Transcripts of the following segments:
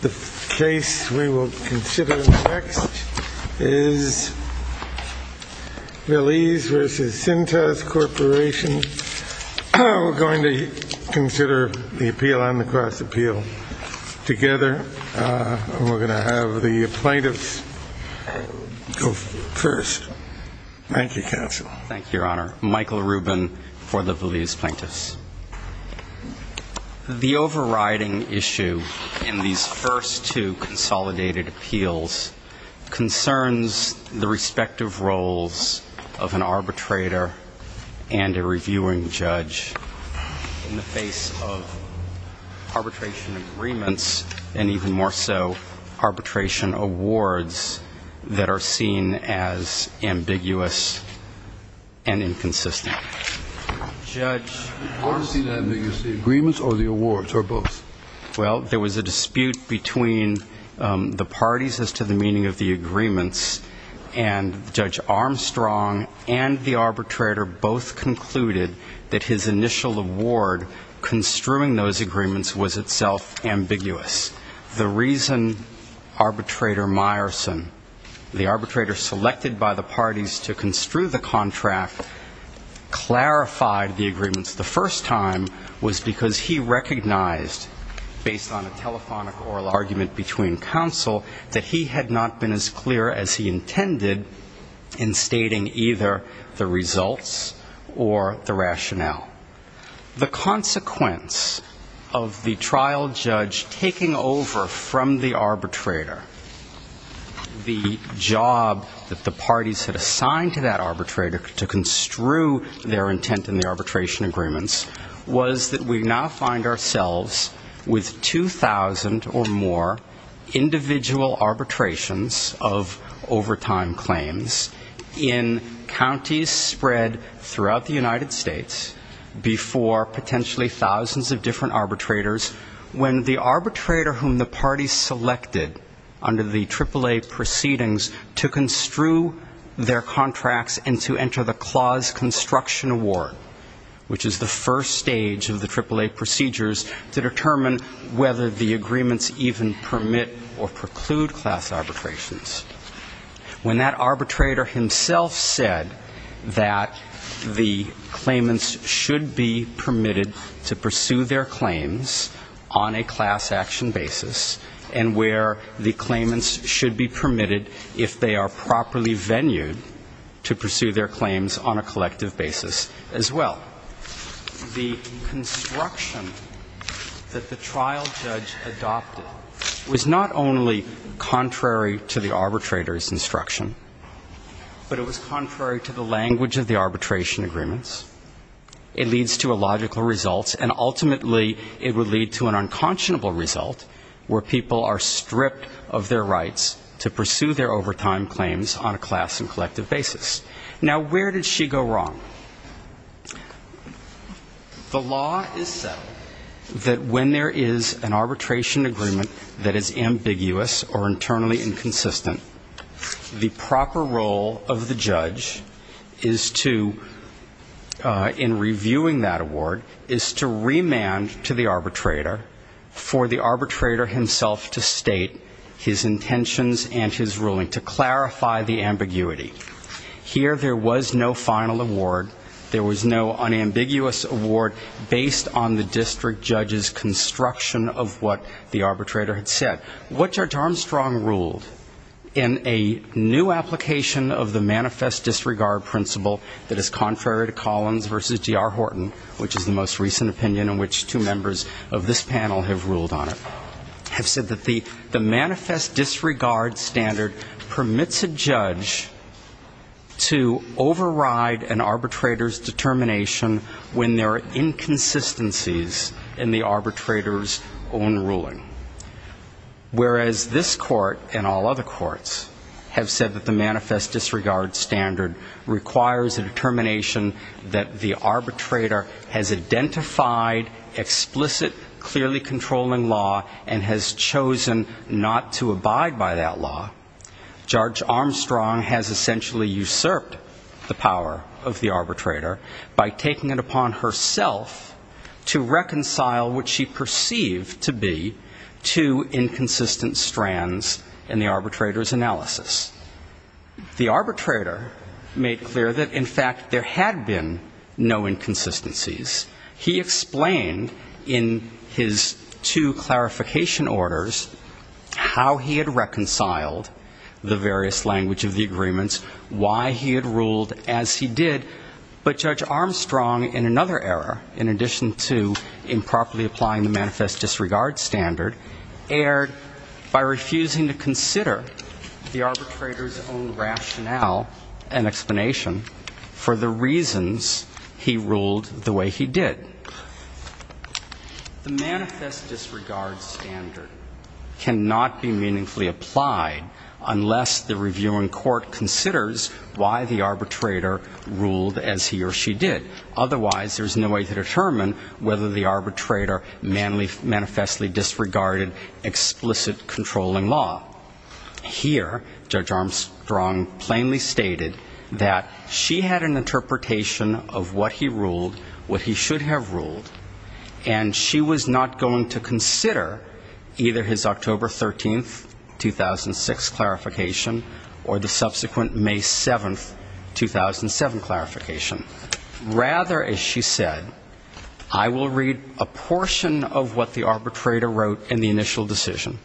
The case we will consider next is Viliz v. Cintas Corporation. We're going to consider the appeal on the cross appeal together. We're going to have the plaintiffs go first. Thank you, counsel. Thank you, Your Honor. Michael Rubin for the Viliz Plaintiffs. The overriding issue in these first two consolidated appeals concerns the respective roles of an arbitrator and a reviewing judge in the face of arbitration agreements and even more so arbitration awards that are seen as ambiguous. Judge Armstrong and the arbitrator both concluded that his initial award construing those agreements was itself ambiguous. The reason arbitrator Meyerson, the arbitrator selected by the parties to construe those agreements, was because he thought that the arguments were ambiguous. The reason the contract clarified the agreements the first time was because he recognized, based on a telephonic oral argument between counsel, that he had not been as clear as he intended in stating either the results or the rationale. The consequence of the trial judge taking over from the arbitrator the job that the parties had assigned to that arbitrator to construe their intent in the arbitration agreements was that we now find ourselves with 2,000 or more individual arbitrations of overtime claims in counties spread throughout the United States. Before potentially thousands of different arbitrators, when the arbitrator whom the parties selected under the AAA proceedings to construe their contracts and to enter the clause construction award, which is the first stage of the AAA procedures to determine whether the agreements even permit or preclude class arbitrations. When that arbitrator himself said that the claimants should be permitted to pursue their claims on a class action basis and where the claimants should be permitted if they are properly venued to pursue their claims on a collective basis as well. Now, the construction that the trial judge adopted was not only contrary to the arbitrator's instruction, but it was contrary to the language of the arbitration agreements. It leads to illogical results and ultimately it would lead to an unconscionable result where people are stripped of their rights to pursue their overtime claims on a class and collective basis. Now, where did she go wrong? The law is set that when there is an arbitration agreement that is ambiguous or internally inconsistent, the proper role of the judge is to, in reviewing that award, is to remand to the arbitrator for the arbitrator himself to state his intentions and his ruling to clarify the ambiguity. Here there was no final award. There was no unambiguous award based on the district judge's construction of what the arbitrator had said. What Judge Armstrong ruled in a new application of the manifest disregard principle that is contrary to Collins v. G.R. Horton, which is the most recent opinion in which two members of this panel have ruled on it, have said that the manifest disregard standard permits a judge to override an arbitrator's determination when there are inconsistencies in the arbitrator's own ruling. Whereas this court and all other courts have said that the manifest disregard standard requires a determination that the arbitrator has identified explicit, clearly controlling law and has chosen not to abide by that law. Judge Armstrong has essentially usurped the power of the arbitrator by taking it upon herself to reconcile what she perceived to be two inconsistent strands in the arbitrator's analysis. The arbitrator made clear that, in fact, there had been no inconsistencies. He explained in his two clarification orders how he had reconciled the various language of the agreements, why he had ruled as he did, but Judge Armstrong in another error, in addition to improperly applying the manifest disregard standard, erred by refusing to consider the arbitrator's own rationale and explanation for the reasons he ruled the way he did. The manifest disregard standard cannot be meaningfully applied unless the reviewing court considers why the arbitrator ruled as he or she did. Otherwise, there's no way to determine whether the arbitrator manifestly disregarded explicit controlling law. Here, Judge Armstrong plainly stated that she had an interpretation of what he ruled, what he should have ruled, and she was not going to consider either his October 13, 2006, clarification or the subsequent May 7, 2007, clarification. Rather, as she said, I will read a portion of what the arbitrator wrote in the initial decision,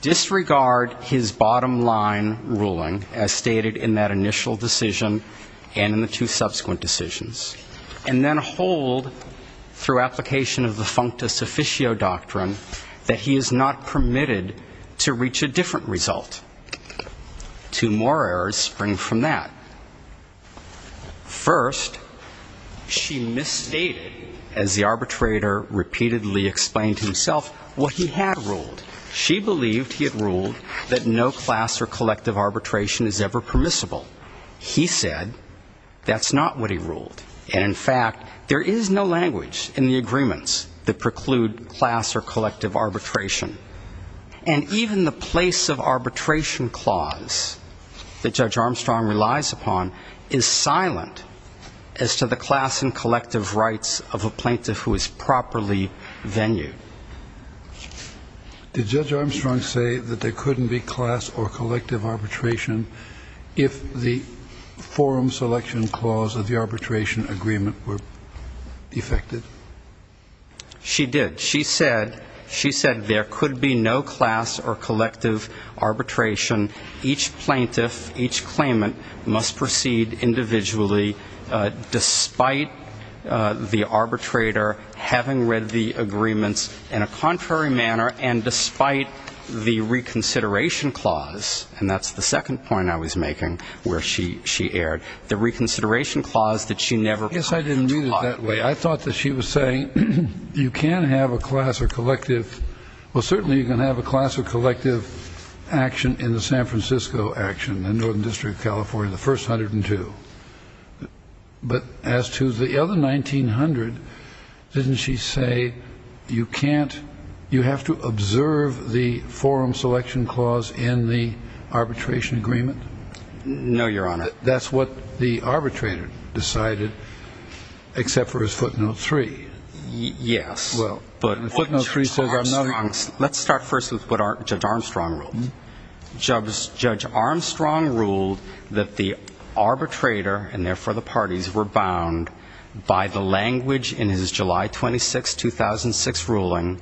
disregard his bottom line ruling as stated in that initial decision and in the two subsequent decisions, and then hold, through application of the functus officio doctrine, that he is not permitted to reach a different result. Two more errors spring from that. First, she misstated, as the arbitrator repeatedly explained to himself, what he had ruled. She believed he had ruled that no class or collective arbitration is ever permissible. He said that's not what he ruled. And in fact, there is no language in the agreements that preclude class or collective arbitration. And even the place of arbitration clause that Judge Armstrong relies upon is silent as to the class and collective rights of a plaintiff who is properly venue. Did Judge Armstrong say that there couldn't be class or collective arbitration if the forum selection clause of the arbitration agreement were effected? She did. She said there could be no class or collective arbitration. Each plaintiff, each claimant, must proceed individually despite the arbitrator having read the agreements in a contrary manner and despite the reconsideration clause. And that's the second point I was making where she erred. The reconsideration clause that she never taught. I guess I didn't mean it that way. I thought that she was saying you can have a class or collective. Well, certainly you can have a class or collective action in the San Francisco action, the Northern District of California, the first 102. But as to the other 1900, didn't she say you can't you have to observe the forum selection clause in the arbitration agreement? No, Your Honor. That's what the arbitrator decided, except for his footnote three. Yes. Footnote three says I'm not. Let's start first with what Judge Armstrong ruled. Judge Armstrong ruled that the arbitrator and therefore the parties were bound by the language in his July 26, 2006, ruling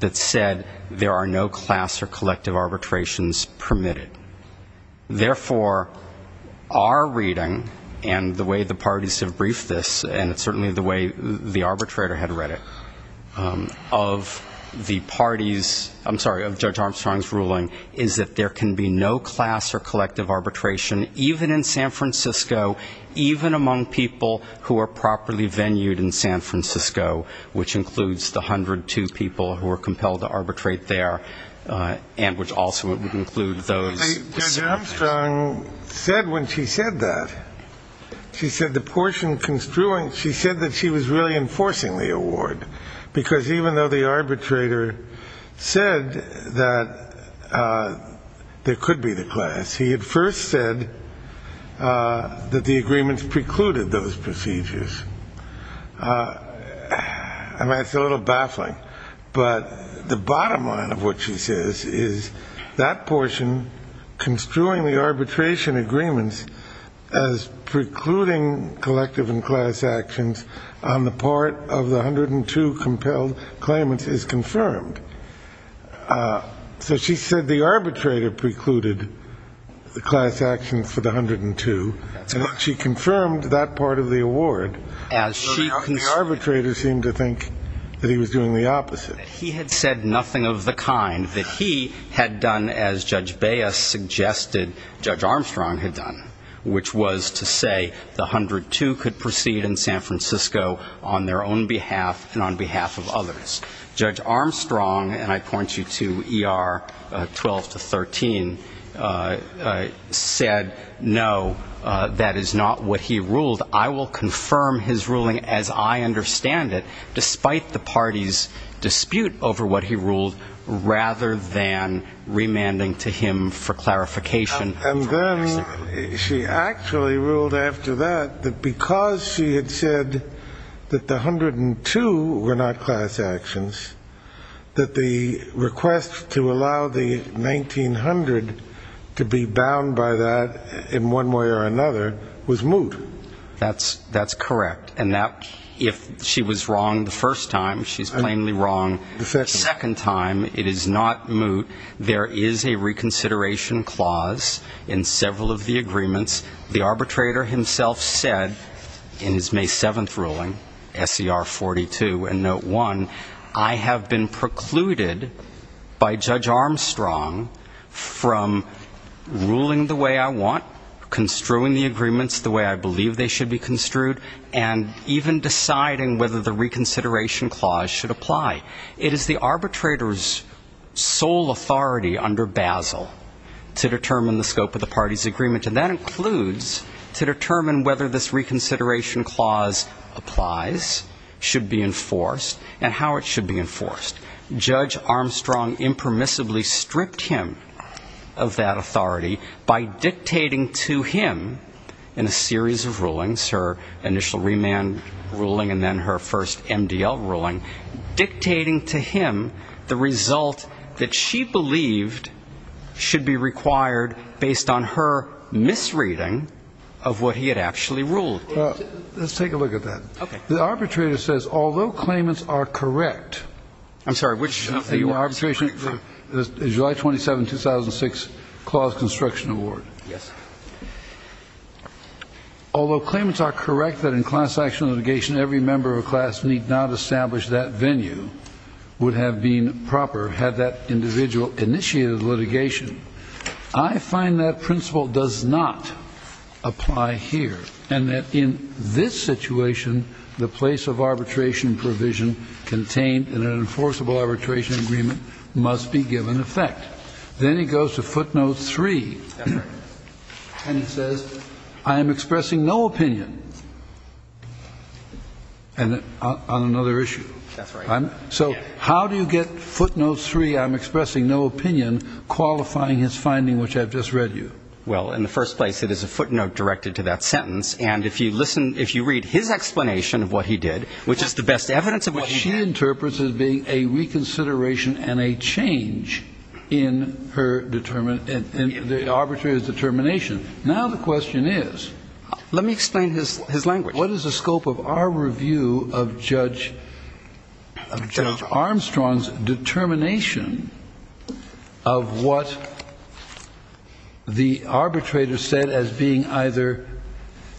that said there are no class or collective arbitrations permitted. Therefore, our reading and the way the parties have briefed this, and it's certainly the way the arbitrator had read it, of the parties, I'm sorry, of Judge Armstrong's ruling, is that there can be no class or collective arbitration, even in San Francisco, even among people who are properly venued in San Francisco, which includes the 102 people who are compelled to arbitrate there and which also would include those. Judge Armstrong said when she said that, she said the portion construing, she said that she was really enforcing the award, because even though the arbitrator said that there could be the class, he had first said that the agreements precluded those procedures. I mean, it's a little baffling, but the bottom line of what she says is that portion, construing the arbitration agreements as precluding collective and class actions on the part of the 102 compelled claimants is confirmed. So she said the arbitrator precluded the class actions for the 102, and she confirmed that part of the award. The arbitrator seemed to think that he was doing the opposite. He had said nothing of the kind that he had done as Judge Baez suggested Judge Armstrong had done, which was to say the 102 could proceed in San Francisco on their own behalf and on behalf of others. Judge Armstrong, and I point you to ER 12 to 13, said, no, that is not what he ruled. I will confirm his ruling as I understand it, despite the party's dispute over what he ruled, rather than remanding to him for clarification. And then she actually ruled after that that because she had said that the 102 were not class actions, that the request to allow the 1900 to be bound by that in one way or another was moot. That's correct. And if she was wrong the first time, she's plainly wrong. The second time it is not moot. There is a reconsideration clause in several of the agreements. The arbitrator himself said in his May 7th ruling, SER 42 and Note 1, I have been precluded by Judge Armstrong from ruling the way I want, construing the agreements the way I believe they should be construed, and even deciding whether the reconsideration clause should apply. It is the arbitrator's sole authority under Basel to determine the scope of the party's agreement, and that includes to determine whether this reconsideration clause applies, should be enforced, and how it should be enforced. Judge Armstrong impermissibly stripped him of that authority by dictating to him, in a series of rulings, her initial remand ruling and then her first MDL ruling, dictating to him the result that she believed should be required based on her misreading of what he had actually ruled. Let's take a look at that. Okay. The arbitrator says, although claimants are correct. I'm sorry, which? July 27, 2006, clause construction award. Yes. Although claimants are correct that in class action litigation, every member of a class need not establish that venue would have been proper had that individual initiated litigation. I find that principle does not apply here, and that in this situation, the place of arbitration provision contained in an enforceable arbitration agreement must be given effect. Then he goes to footnote three. Yes, sir. And he says, I am expressing no opinion on another issue. That's right. So how do you get footnote three, I'm expressing no opinion, qualifying his finding, which I've just read you? Well, in the first place, it is a footnote directed to that sentence, and if you read his explanation of what he did, which is the best evidence of what he did. What she interprets as being a reconsideration and a change in her determination. And the arbitrator's determination. Now the question is. Let me explain his language. What is the scope of our review of Judge Armstrong's determination of what the arbitrator said as being either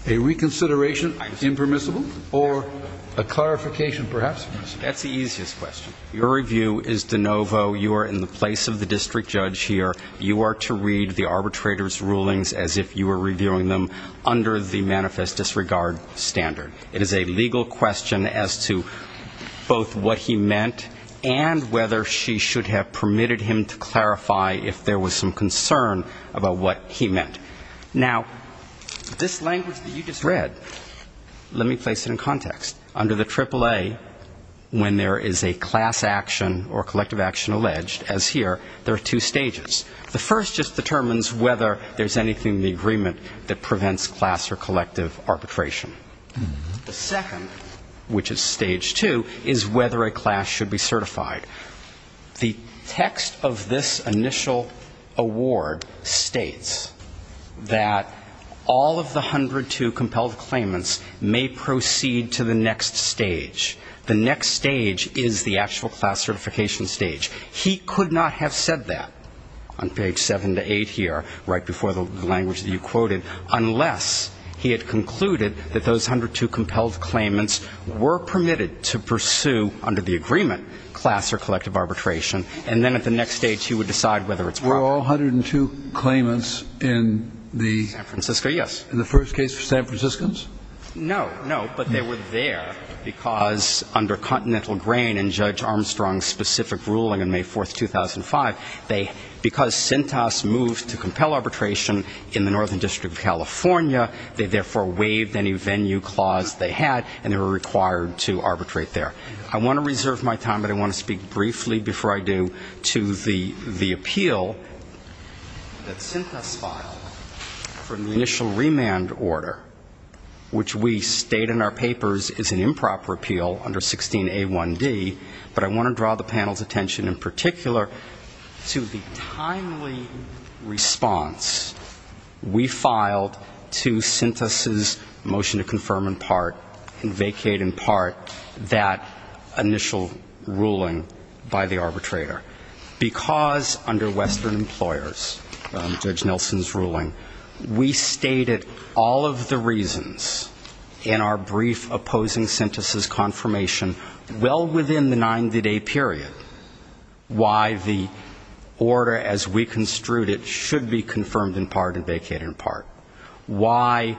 a reconsideration, impermissible, or a clarification, perhaps permissible? That's the easiest question. Your review is de novo. You are in the place of the district judge here. You are to read the arbitrator's rulings as if you were reviewing them under the manifest disregard standard. It is a legal question as to both what he meant and whether she should have permitted him to clarify if there was some concern about what he meant. Now, this language that you just read, let me place it in context. Under the AAA, when there is a class action or collective action alleged, as here, there are two stages. The first just determines whether there's anything in the agreement that prevents class or collective arbitration. The second, which is stage two, is whether a class should be certified. The text of this initial award states that all of the 102 compelled claimants may proceed to the next stage. The next stage is the actual class certification stage. He could not have said that on page 7 to 8 here, right before the language that you quoted, unless he had concluded that those 102 compelled claimants were permitted to pursue, under the agreement, class or collective arbitration. And then at the next stage, he would decide whether it's proper. We're all 102 claimants in the... San Francisco, yes. In the first case for San Franciscans? No, no. But they were there because under Continental Grain and Judge Armstrong's specific ruling on May 4, 2005, because CENTAS moved to compel arbitration in the Northern District of California, they therefore waived any venue clause they had and they were required to arbitrate there. I want to reserve my time, but I want to speak briefly before I do, to the appeal that CENTAS filed for the initial remand order, which we state in our papers is an improper appeal under 16A1D, but I want to draw the panel's attention in particular to the timely response we filed to CENTAS' motion to confirm in part and vacate in part that initial ruling by the arbitrator. Because under Western Employers, Judge Nelson's ruling, we stated all of the reasons in our brief opposing CENTAS' confirmation, well within the 90-day period, why the order as we construed it should be confirmed in part and vacated in part, why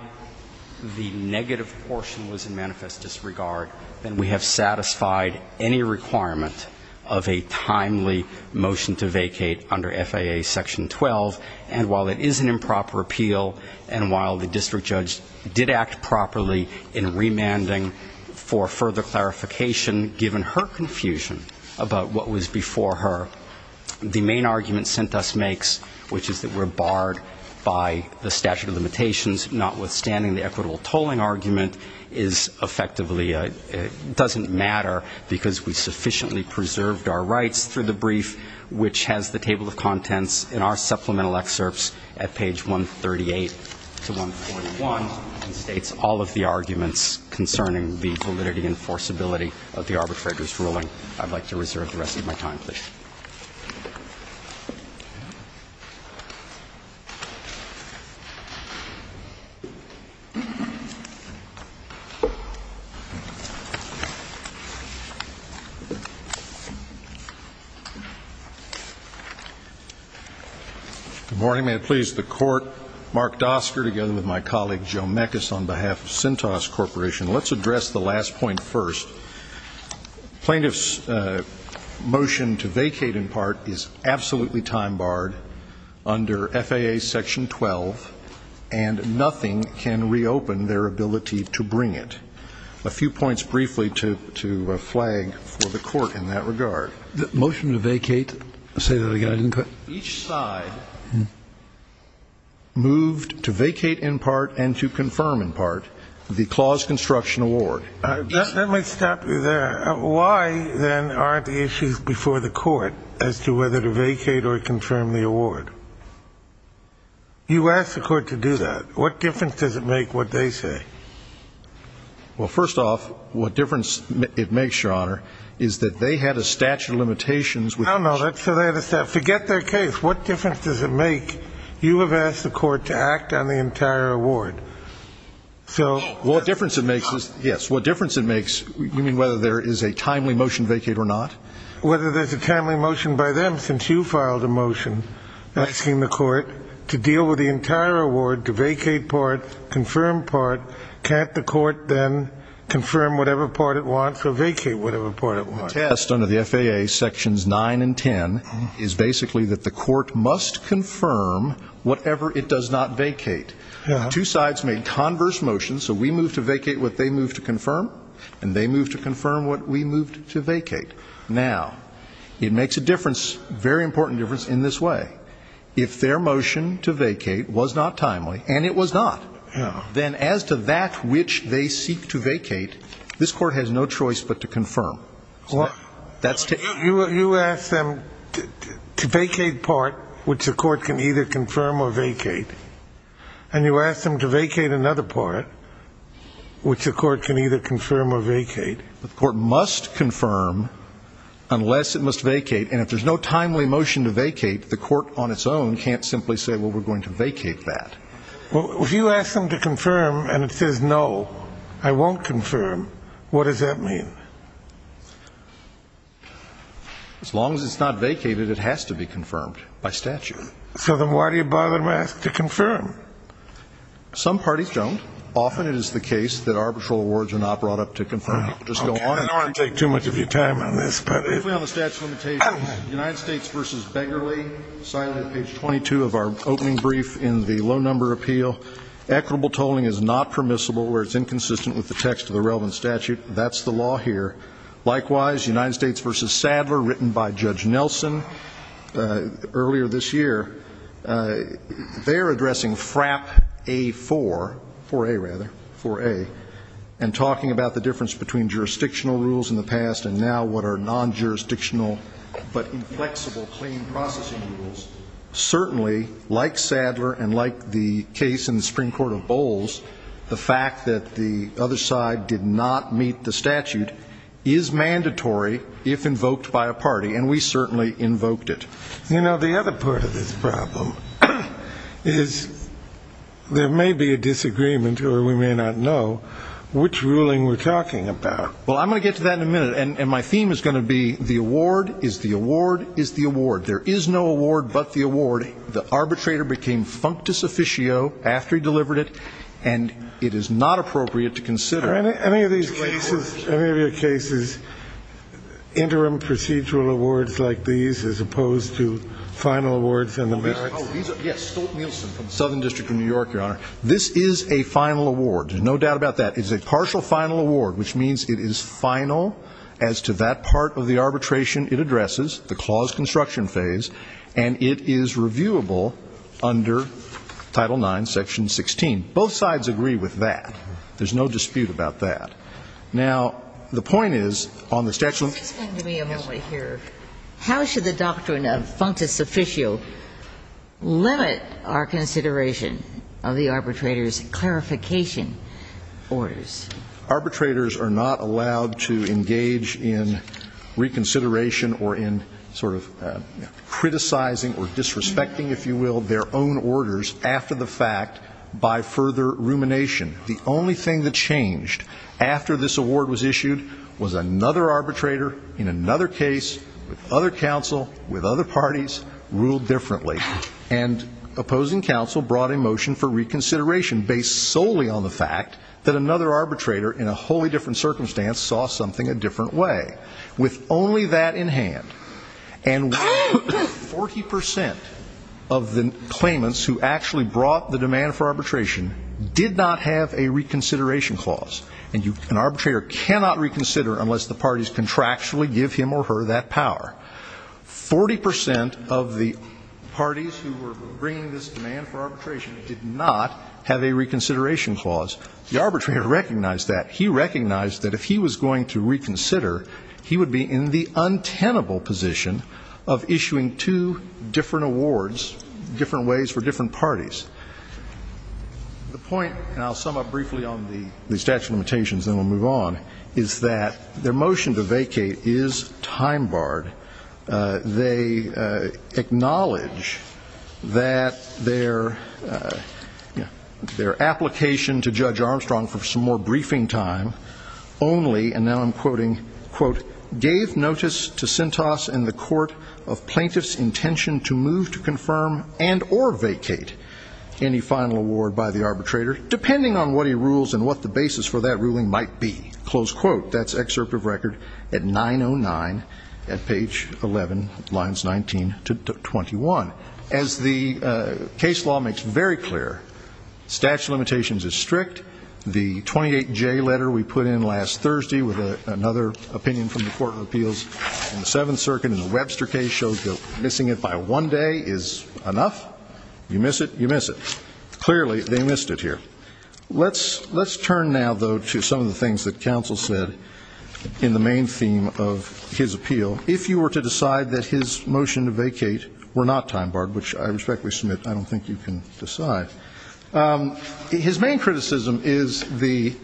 the negative portion was in manifest disregard, and we have satisfied any requirement of a timely motion to vacate under FAA Section 12, and while it is an improper appeal and while the district judge did act properly in remanding for further clarification, given her confusion about what was before her, the main argument CENTAS makes, which is that we're barred by the statute of limitations, notwithstanding the equitable tolling argument, is effectively, doesn't matter because we sufficiently preserved our rights through the brief, which has the table of contents in our supplemental excerpts at page 138 to 141, and states all of the arguments concerning the validity and forcibility of the arbitrator's ruling. I'd like to reserve the rest of my time, please. Thank you. Good morning. May it please the Court, Mark Dosker together with my colleague Joe Mekas on behalf of CENTAS Corporation. Let's address the last point first. Plaintiff's motion to vacate in part is absolutely time barred under FAA Section 12, and nothing can reopen their ability to bring it. A few points briefly to flag for the Court in that regard. The motion to vacate, say that again. Each side moved to vacate in part and to confirm in part the clause construction award. Let me stop you there. Why, then, aren't the issues before the Court as to whether to vacate or confirm the award? You asked the Court to do that. What difference does it make what they say? Well, first off, what difference it makes, Your Honor, is that they had a statute of limitations. No, no. Forget their case. What difference does it make? You have asked the Court to act on the entire award. Well, what difference it makes is, yes, what difference it makes, you mean whether there is a timely motion to vacate or not? Whether there's a timely motion by them, since you filed a motion asking the Court to deal with the entire award, to vacate part, confirm part, can't the Court then confirm whatever part it wants or vacate whatever part it wants? The test under the FAA Sections 9 and 10 is basically that the Court must confirm whatever it does not vacate. Two sides made converse motions, so we moved to vacate what they moved to confirm, and they moved to confirm what we moved to vacate. Now, it makes a difference, very important difference, in this way. If their motion to vacate was not timely, and it was not, then as to that which they seek to vacate, this Court has no choice but to confirm. You ask them to vacate part, which the Court can either confirm or vacate, and you ask them to vacate another part, which the Court can either confirm or vacate. The Court must confirm unless it must vacate, and if there's no timely motion to vacate, the Court on its own can't simply say, well, we're going to vacate that. If you ask them to confirm and it says, no, I won't confirm, what does that mean? As long as it's not vacated, it has to be confirmed by statute. So then why do you bother to ask to confirm? Some parties don't. Often it is the case that arbitral awards are not brought up to confirm. I don't want to take too much of your time on this. Briefly on the statute of limitations, United States v. Beggarly, cited on page 22 of our opening brief in the low-number appeal, equitable tolling is not permissible where it's inconsistent with the text of the relevant statute. That's the law here. Likewise, United States v. Sadler, written by Judge Nelson earlier this year, they're addressing FRAP A4, 4A, rather, 4A, and talking about the difference between jurisdictional rules in the past and now what are non-jurisdictional but inflexible claim processing rules. Certainly, like Sadler and like the case in the Supreme Court of Bowles, the fact that the other side did not meet the statute is mandatory if invoked by a party, and we certainly invoked it. You know, the other part of this problem is there may be a disagreement, or we may not know which ruling we're talking about. Well, I'm going to get to that in a minute, and my theme is going to be the award is the award is the award. There is no award but the award. The arbitrator became functus officio after he delivered it, and it is not appropriate to consider. Are there any of these cases, any of your cases, interim procedural awards like these as opposed to final awards in the middle? Yes, Stolt-Nielsen from the Southern District of New York, Your Honor. This is a final award. There's no doubt about that. It's a partial final award, which means it is final as to that part of the arbitration it addresses, the clause construction phase, and it is reviewable under Title IX, Section 16. Both sides agree with that. There's no dispute about that. Now, the point is on the statute of limitations. Excuse me a moment here. How should the doctrine of functus officio limit our consideration of the arbitrator's clarification orders? Arbitrators are not allowed to engage in reconsideration or in sort of criticizing or disrespecting, if you will, their own orders after the fact by further rumination. The only thing that changed after this award was issued was another arbitrator in another case with other counsel with other parties ruled differently, and opposing counsel brought a motion for reconsideration based solely on the fact that another arbitrator in a wholly different circumstance saw something a different way. With only that in hand and 40 percent of the claimants who actually brought the demand for arbitration did not have a reconsideration clause, and an arbitrator cannot reconsider unless the parties contractually give him or her that power. Forty percent of the parties who were bringing this demand for arbitration did not have a reconsideration clause. The arbitrator recognized that. He recognized that if he was going to reconsider, he would be in the untenable position of issuing two different awards, different ways for different parties. The point, and I'll sum up briefly on the statute of limitations, then we'll move on, is that their motion to vacate is time-barred. They acknowledge that their application to Judge Armstrong for some more briefing time only, and now I'm quoting, quote, gave notice to Sentos and the court of plaintiff's intention to move to confirm and or vacate any final award by the arbitrator, depending on what he rules and what the basis for that ruling might be. Close quote. That's excerpt of record at 909 at page 11, lines 19 to 21. As the case law makes very clear, statute of limitations is strict. The 28J letter we put in last Thursday with another opinion from the Court of Appeals in the Seventh Circuit in the Webster case shows that missing it by one day is enough. You miss it, you miss it. Clearly, they missed it here. Let's turn now, though, to some of the things that counsel said in the main theme of his appeal. If you were to decide that his motion to vacate were not time-barred, which I respectfully submit I don't think you can decide, his main criticism is the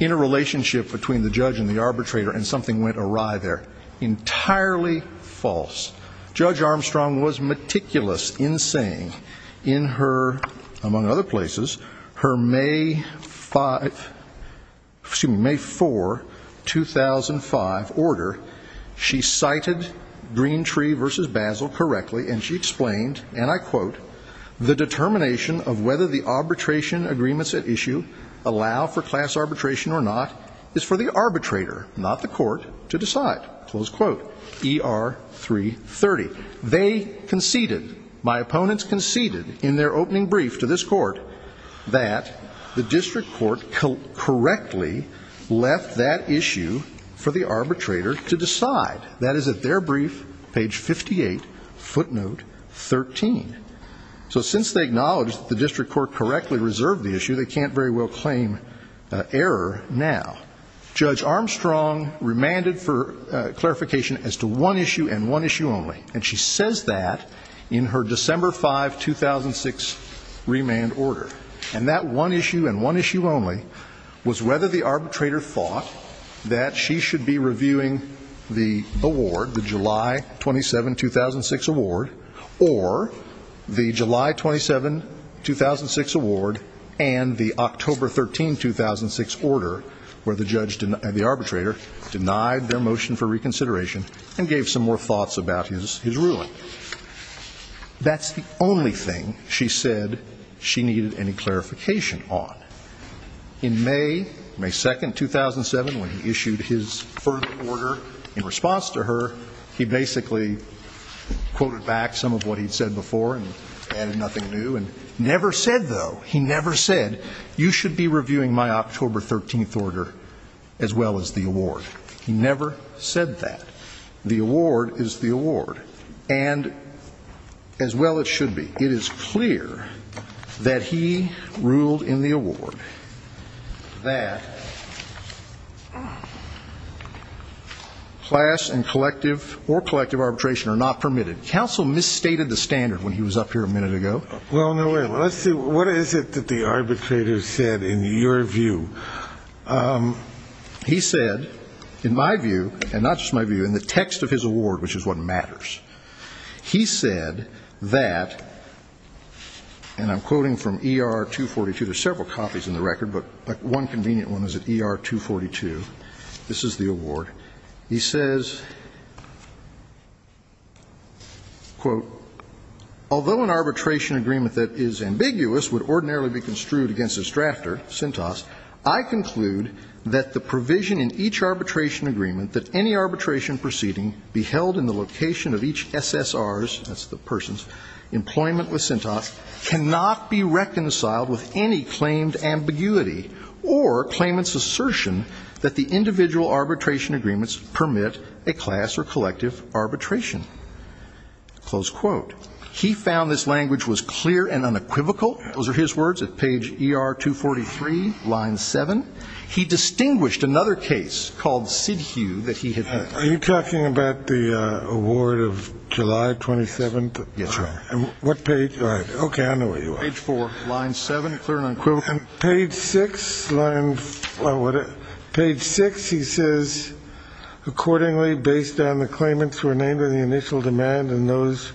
interrelationship between the judge and the arbitrator and something went awry there. Entirely false. Judge Armstrong was meticulous in saying in her, among other places, her May 5, excuse me, May 4, 2005 order, she cited Greentree v. Basil correctly and she explained, and I quote, the determination of whether the arbitration agreements at issue allow for class arbitration or not is for the arbitrator, not the court, to decide. Close quote. ER 330. They conceded, my opponents conceded in their opening brief to this court, that the district court correctly left that issue for the arbitrator to decide. That is at their brief, page 58, footnote 13. So since they acknowledged that the district court correctly reserved the issue, they can't very well claim error now. Judge Armstrong remanded for clarification as to one issue and one issue only. And she says that in her December 5, 2006 remand order. And that one issue and one issue only was whether the arbitrator thought that she should be reviewing the award, the July 27, 2006 award, and the October 13, 2006 order, where the judge, the arbitrator, denied their motion for reconsideration and gave some more thoughts about his ruling. That's the only thing she said she needed any clarification on. In May, May 2, 2007, when he issued his third order in response to her, he basically quoted back, some of what he'd said before and added nothing new, and never said, though, he never said, you should be reviewing my October 13 order as well as the award. He never said that. The award is the award. And as well it should be. It is clear that he ruled in the award that class and collective or collective arbitration are not permitted. Counsel misstated the standard when he was up here a minute ago. Well, no way. Let's see. What is it that the arbitrator said in your view? He said, in my view, and not just my view, in the text of his award, which is what matters, he said that, and I'm quoting from ER-242. There's several copies in the record, but one convenient one is at ER-242. This is the award. He says, quote, Although an arbitration agreement that is ambiguous would ordinarily be construed against its drafter, Cintas, I conclude that the provision in each arbitration agreement that any arbitration proceeding be held in the location of each SSR's, that's the person's, employment with Cintas cannot be reconciled with any claimed ambiguity or claimant's assertion that the individual arbitration agreements permit a class or collective arbitration. Close quote. He found this language was clear and unequivocal. Those are his words at page ER-243, line 7. He distinguished another case called Sidhu that he had Are you talking about the award of July 27th? Yes, sir. And what page? All right. Page 4, line 7, clear and unequivocal. Page 6, he says, Accordingly, based on the claimants who were named in the initial demand and those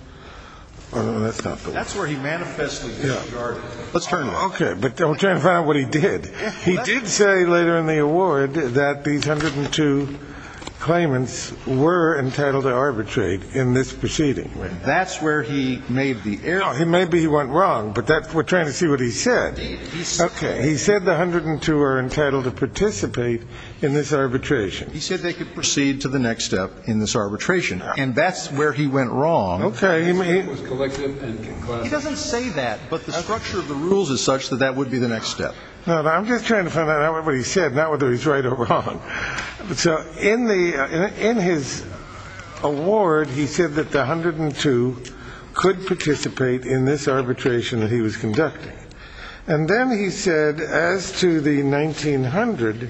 That's where he manifestly disregarded it. Let's turn around. Okay, but don't turn around what he did. He did say later in the award that these 102 claimants were entitled to arbitrate in this proceeding. That's where he made the error. Maybe he went wrong, but we're trying to see what he said. Okay. He said the 102 are entitled to participate in this arbitration. He said they could proceed to the next step in this arbitration. And that's where he went wrong. Okay. He doesn't say that, but the structure of the rules is such that that would be the next step. I'm just trying to find out what he said, not whether he's right or wrong. So in his award, he said that the 102 could participate in this arbitration that he was conducting. And then he said, as to the 1900,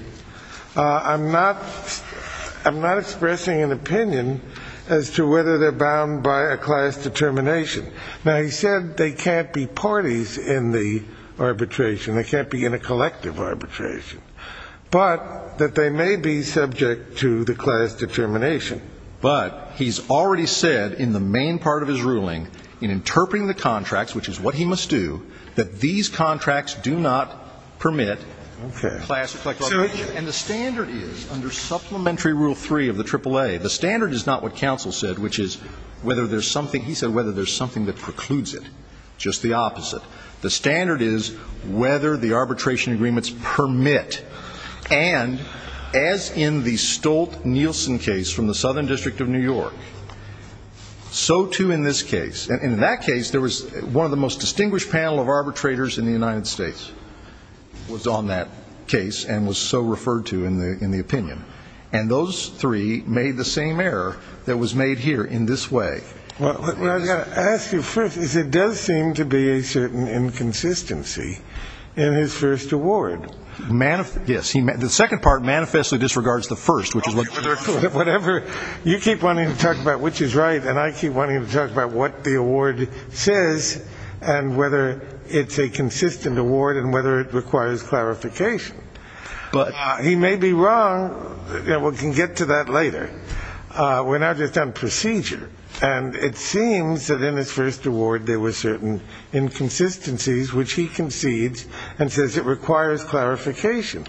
I'm not expressing an opinion as to whether they're bound by a class determination. Now, he said they can't be parties in the arbitration. They can't be in a collective arbitration, but that they may be subject to the class determination. But he's already said in the main part of his ruling, in interpreting the contracts, which is what he must do, that these contracts do not permit a class of collective arbitration. And the standard is, under Supplementary Rule 3 of the AAA, the standard is not what counsel said, which is whether there's something he said, whether there's something that precludes it. Just the opposite. The standard is whether the arbitration agreements permit. And as in the Stolt-Nielsen case from the Southern District of New York, so too in this case. And in that case, there was one of the most distinguished panel of arbitrators in the United States was on that case and was so referred to in the opinion. And those three made the same error that was made here in this way. Well, I've got to ask you first, because there does seem to be a certain inconsistency in his first award. Yes. The second part manifestly disregards the first. Whatever. You keep wanting to talk about which is right, and I keep wanting to talk about what the award says and whether it's a consistent award and whether it requires clarification. He may be wrong. We can get to that later. We're now just on procedure. And it seems that in his first award there were certain inconsistencies, which he concedes and says it requires clarification.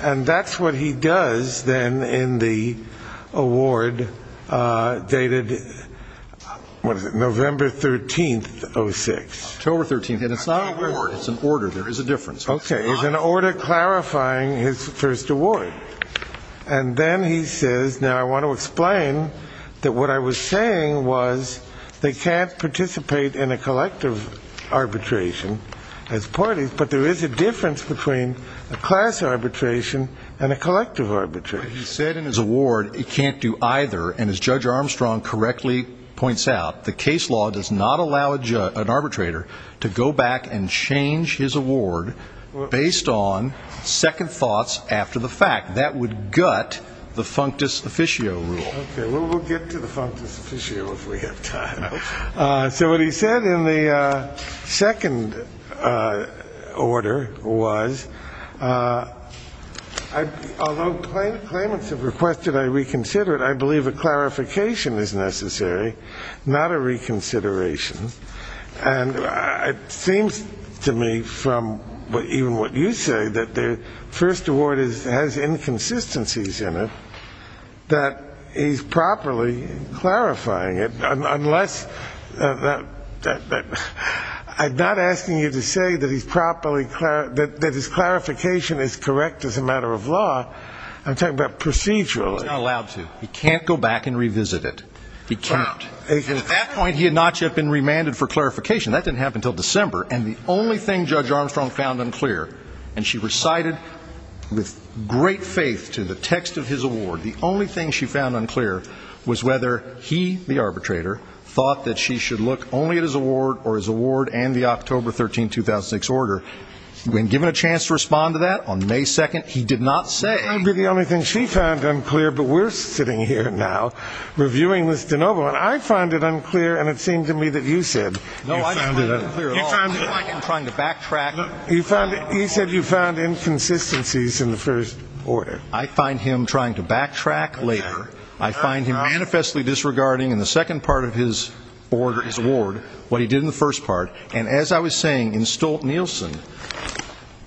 And that's what he does then in the award dated, what is it, November 13th, 06. October 13th. And it's not an award. It's an order. There is a difference. Okay. It's an order clarifying his first award. And then he says, now I want to explain that what I was saying was they can't participate in a collective arbitration as parties, but there is a difference between a class arbitration and a collective arbitration. He said in his award he can't do either. And as Judge Armstrong correctly points out, the case law does not allow an arbitrator to go back and change his award based on second thoughts after the fact. That would gut the functus officio rule. Okay. Well, we'll get to the functus officio if we have time. So what he said in the second order was, although claimants have requested I reconsider it, I believe a clarification is necessary, not a reconsideration. And it seems to me from even what you say, that the first award has inconsistencies in it, that he's properly clarifying it. I'm not asking you to say that his clarification is correct as a matter of law. I'm talking about procedurally. He's not allowed to. He can't go back and revisit it. He can't. And at that point he had not yet been remanded for clarification. That didn't happen until December. And the only thing Judge Armstrong found unclear, and she recited with great faith to the text of his award, the only thing she found unclear was whether he, the arbitrator, thought that she should look only at his award or his award and the October 13, 2006 order. When given a chance to respond to that on May 2nd, he did not say. That might be the only thing she found unclear, but we're sitting here now reviewing this de novo, and I find it unclear, and it seems to me that you said. No, I didn't find it unclear at all. You found it unclear. I feel like I'm trying to backtrack. He said you found inconsistencies in the first order. I find him trying to backtrack later. I find him manifestly disregarding in the second part of his award what he did in the first part. And as I was saying, in Stolt-Nielsen,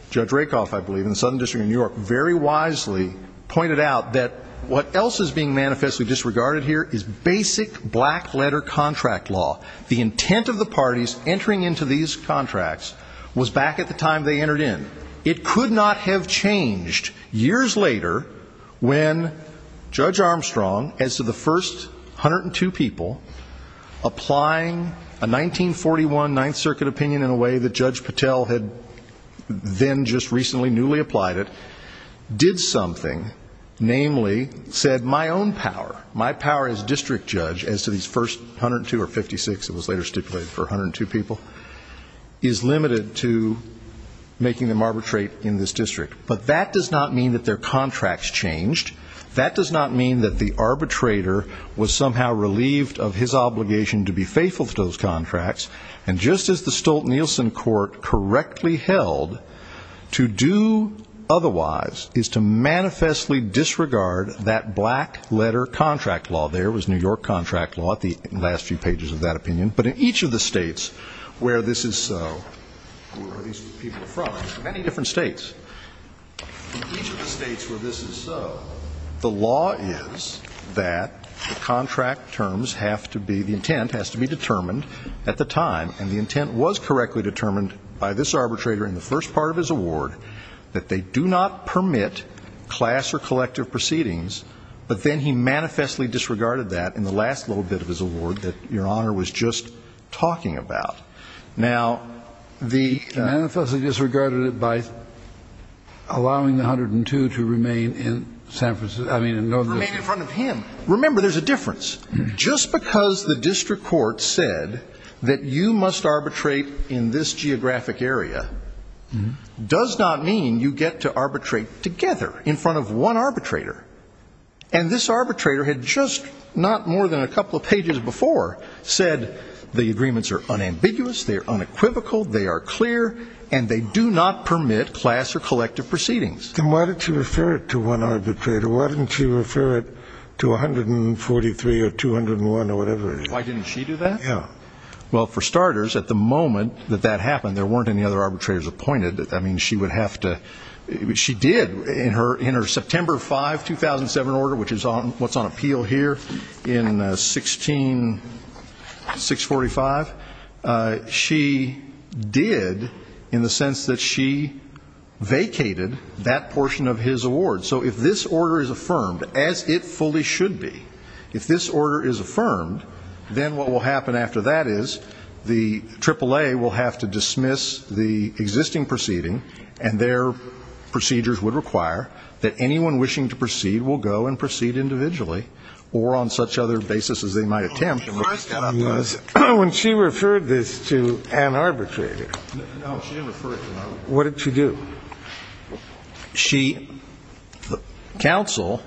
Judge Rakoff, I believe, in the Southern District of New York, very wisely pointed out that what else is being manifestly disregarded here is basic black-letter contract law. The intent of the parties entering into these contracts was back at the time they entered in. It could not have changed years later when Judge Armstrong, as to the first 102 people, applying a 1941 Ninth Circuit opinion in a way that Judge Patel had then just recently newly applied it, did something, namely said my own power, my power as district judge, as to these first 102 or 56, it was later stipulated for 102 people, is limited to making them arbitrate in this district. But that does not mean that their contracts changed. That does not mean that the arbitrator was somehow relieved of his obligation to be faithful to those contracts. And just as the Stolt-Nielsen court correctly held, to do otherwise is to manifestly disregard that black-letter contract law. There was New York contract law at the last few pages of that opinion. But in each of the states where this is so, who are these people from? Many different states. In each of the states where this is so, the law is that the contract terms have to be, the intent has to be determined at the time, and the intent was correctly determined by this arbitrator in the first part of his award, that they do not permit class or collective proceedings, but then he manifestly disregarded that in the last little bit of his award that Your Honor was just talking about. Now, the ‑‑ He manifestly disregarded it by allowing the 102 to remain in San Francisco, I mean in northern ‑‑ Remain in front of him. Remember, there's a difference. Just because the district court said that you must arbitrate in this geographic area does not mean you get to arbitrate together in front of one arbitrator. And this arbitrator had just not more than a couple of pages before said the agreements are unambiguous, they are unequivocal, they are clear, and they do not permit class or collective proceedings. Then why did she refer it to one arbitrator? Why didn't she refer it to 143 or 201 or whatever it is? Why didn't she do that? Yeah. Well, for starters, at the moment that that happened, there weren't any other arbitrators appointed. I mean, she would have to ‑‑ she did in her September 5, 2007 order, which is what's on appeal here in 16‑645, she did in the sense that she vacated that portion of his award. So if this order is affirmed, as it fully should be, if this order is affirmed, then what will happen after that is the AAA will have to dismiss the existing proceeding and their procedures would require that anyone wishing to proceed will go and proceed individually or on such other basis as they might attempt. When she referred this to an arbitrator, what did she do? She ‑‑ the counsel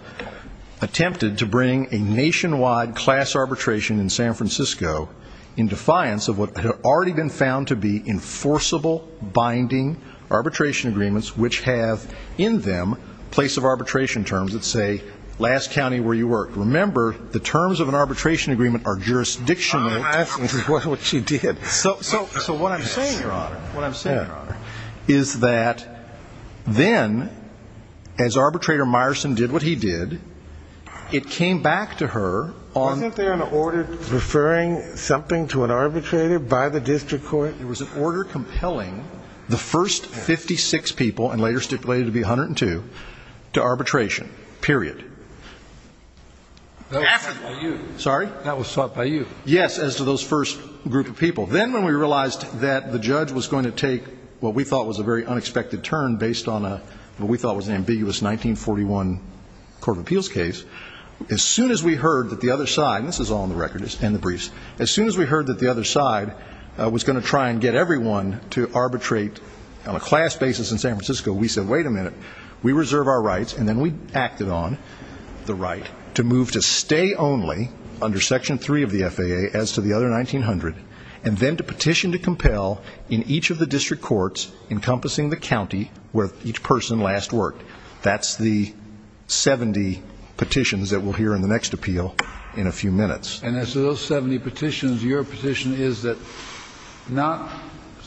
attempted to bring a nationwide class arbitration in San Francisco in defiance of what had already been found to be enforceable binding arbitration agreements which have in them place of arbitration terms that say last county where you worked. Remember, the terms of an arbitration agreement are jurisdictional. I think this is what she did. So what I'm saying, Your Honor, what I'm saying, Your Honor, is that then as arbitrator Meyerson did what he did, it came back to her on ‑‑ Wasn't there an order referring something to an arbitrator by the district court? There was an order compelling the first 56 people, and later stipulated to be 102, to arbitration, period. That was sought by you. Sorry? That was sought by you. Yes, as to those first group of people. Then when we realized that the judge was going to take what we thought was a very unexpected turn based on what we thought was an ambiguous 1941 Court of Appeals case, as soon as we heard that the other side, and this is all on the record and the briefs, as soon as we heard that the other side was going to try and get everyone to arbitrate on a class basis in San Francisco, we said, wait a minute, we reserve our rights, and then we acted on the right to move to stay only under Section 3 of the FAA as to the other 1900, and then to petition to compel in each of the district courts encompassing the county where each person last worked. That's the 70 petitions that we'll hear in the next appeal in a few minutes. And as to those 70 petitions, your petition is that not,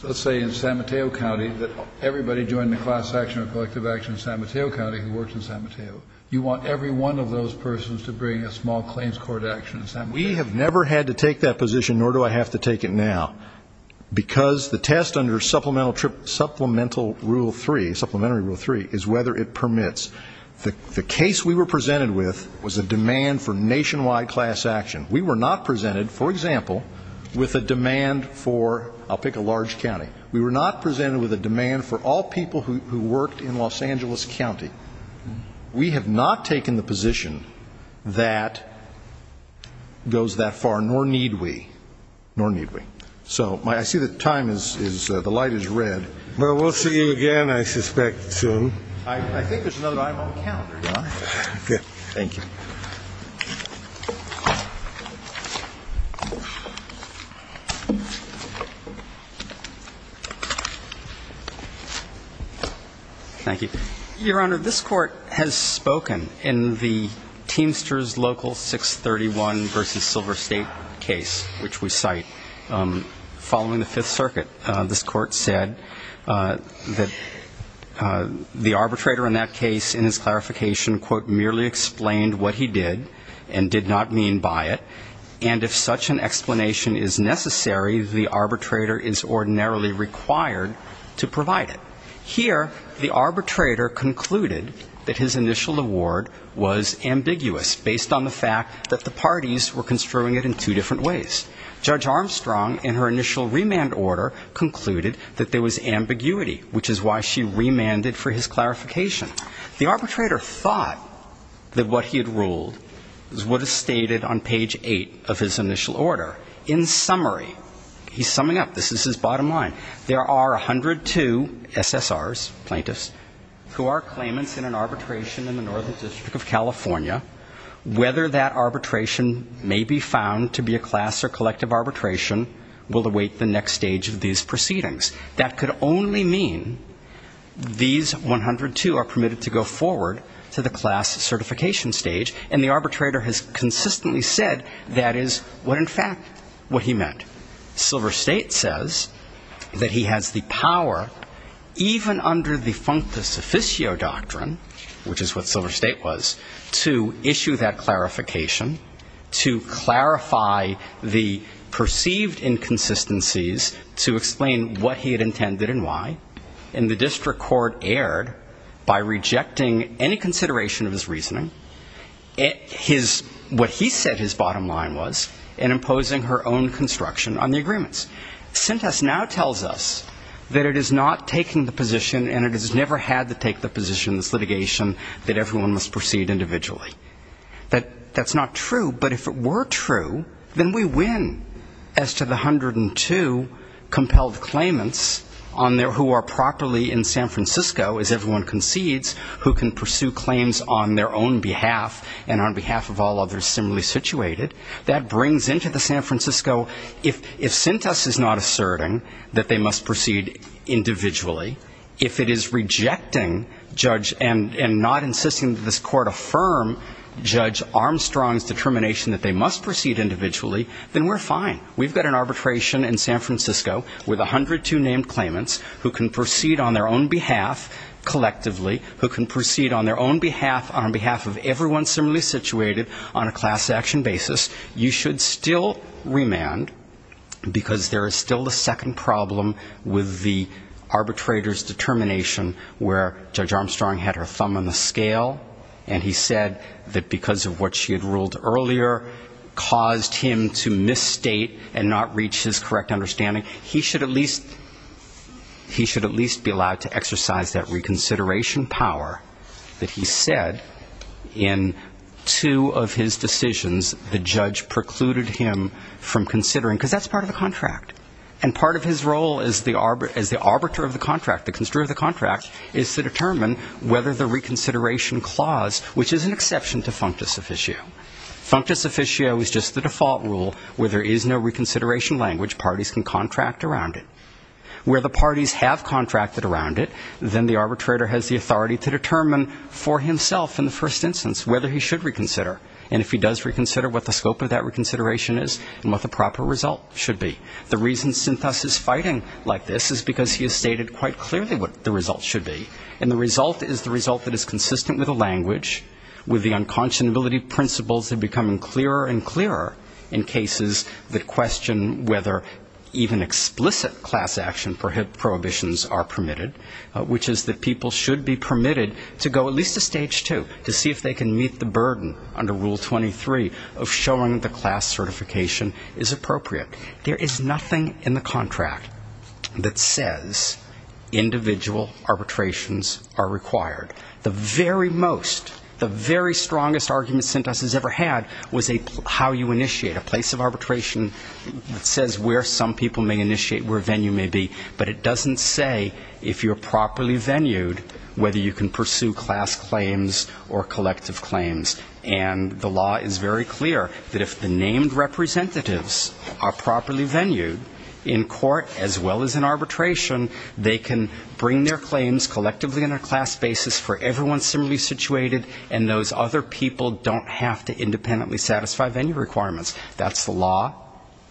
let's say, in San Mateo County, that everybody join the class action or collective action in San Mateo County who works in San Mateo. You want every one of those persons to bring a small claims court action in San Mateo. We have never had to take that position, nor do I have to take it now, because the test under Supplemental Rule 3, Supplementary Rule 3, is whether it permits. The case we were presented with was a demand for nationwide class action. We were not presented, for example, with a demand for, I'll pick a large county, we were not presented with a demand for all people who worked in Los Angeles County. We have not taken the position that goes that far, nor need we, nor need we. So I see the time is, the light is red. Well, we'll see you again, I suspect, soon. I think there's another item on the calendar, John. Okay. Thank you. Thank you. Your Honor, this Court has spoken in the Teamsters Local 631 v. Silver State case, which we cite, following the Fifth Circuit. This Court said that the arbitrator in that case, in his clarification, Here, the arbitrator concluded that his initial award was ambiguous, based on the fact that the parties were construing it in two different ways. Judge Armstrong, in her initial remand order, concluded that there was ambiguity, which is why she remanded for his clarification. that what he had ruled is what is stated on page eight of his initial order. In summary, he's summing up, this is his bottom line, there are 102 SSRs, plaintiffs, who are claimants in an arbitration in the Northern District of California. Whether that arbitration may be found to be a class or collective arbitration will await the next stage of these proceedings. That could only mean these 102 are permitted to go forward to the class certification stage, and the arbitrator has consistently said that is what, in fact, what he meant. Silver State says that he has the power, even under the functus officio doctrine, which is what Silver State was, to issue that clarification, to clarify the perceived inconsistencies, to explain what he had intended and why, and the district court erred by rejecting any consideration of his reasoning. What he said his bottom line was, in imposing her own construction on the agreements. Sintas now tells us that it is not taking the position, and it has never had to take the position in this litigation, that everyone must proceed individually. That's not true, but if it were true, then we win as to the 102 compelled claimants who are properly in San Francisco, as everyone concedes, who can pursue claims on their own behalf and on behalf of all others similarly situated. That brings into the San Francisco, if Sintas is not asserting that they must proceed individually, if it is rejecting judge and not insisting that this court affirm judge Armstrong's determination that they must proceed individually, then we're fine. We've got an arbitration in San Francisco with 102 named claimants who can proceed on their own behalf collectively, who can proceed on their own behalf and on behalf of everyone similarly situated on a class action basis. You should still remand, because there is still the second problem with the arbitrator's determination where judge Armstrong had her thumb on the scale, and he said that because of what she had ruled earlier caused him to misstate and not reach his correct understanding. He should at least be allowed to exercise that reconsideration power that he said in two of his decisions the judge precluded him from considering, because that's part of the contract. And part of his role as the arbiter of the contract, the construer of the contract, is to determine whether the reconsideration clause, which is an exception to functus officio. Functus officio is just the default rule where there is no reconsideration language, parties can contract around it. Where the parties have contracted around it, then the arbitrator has the authority to determine for himself in the first instance whether he should reconsider. And if he does reconsider, what the scope of that reconsideration is and what the proper result should be. The reason Sintas is fighting like this is because he has stated quite clearly what the result should be. And the result is the result that is consistent with the language, with the unconscionability principles becoming clearer and clearer in cases that question whether even explicit class action prohibitions are permitted, which is that people should be permitted to go at least to stage two to see if they can meet the burden under Rule 23 of showing the class certification is appropriate. There is nothing in the contract that says individual arbitrations are required. The very most, the very strongest argument Sintas has ever had was how you initiate, a place of arbitration that says where some people may initiate, where a venue may be, but it doesn't say if you're properly venued whether you can pursue class claims or collective claims. And the law is very clear that if the named representatives are properly venued, in court as well as in arbitration, they can bring their claims collectively on a class basis for everyone similarly situated, and those other people don't have to independently satisfy venue requirements. That's the law.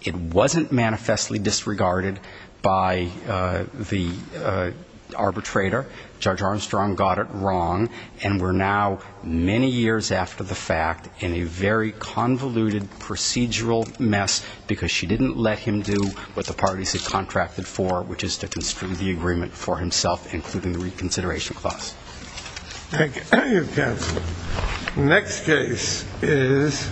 It wasn't manifestly disregarded by the arbitrator. Judge Armstrong got it wrong, and we're now many years after the fact in a very convoluted procedural mess because she didn't let him do what the parties had contracted for, which is to construe the agreement for himself, including the reconsideration clause. Thank you, counsel. Next case is...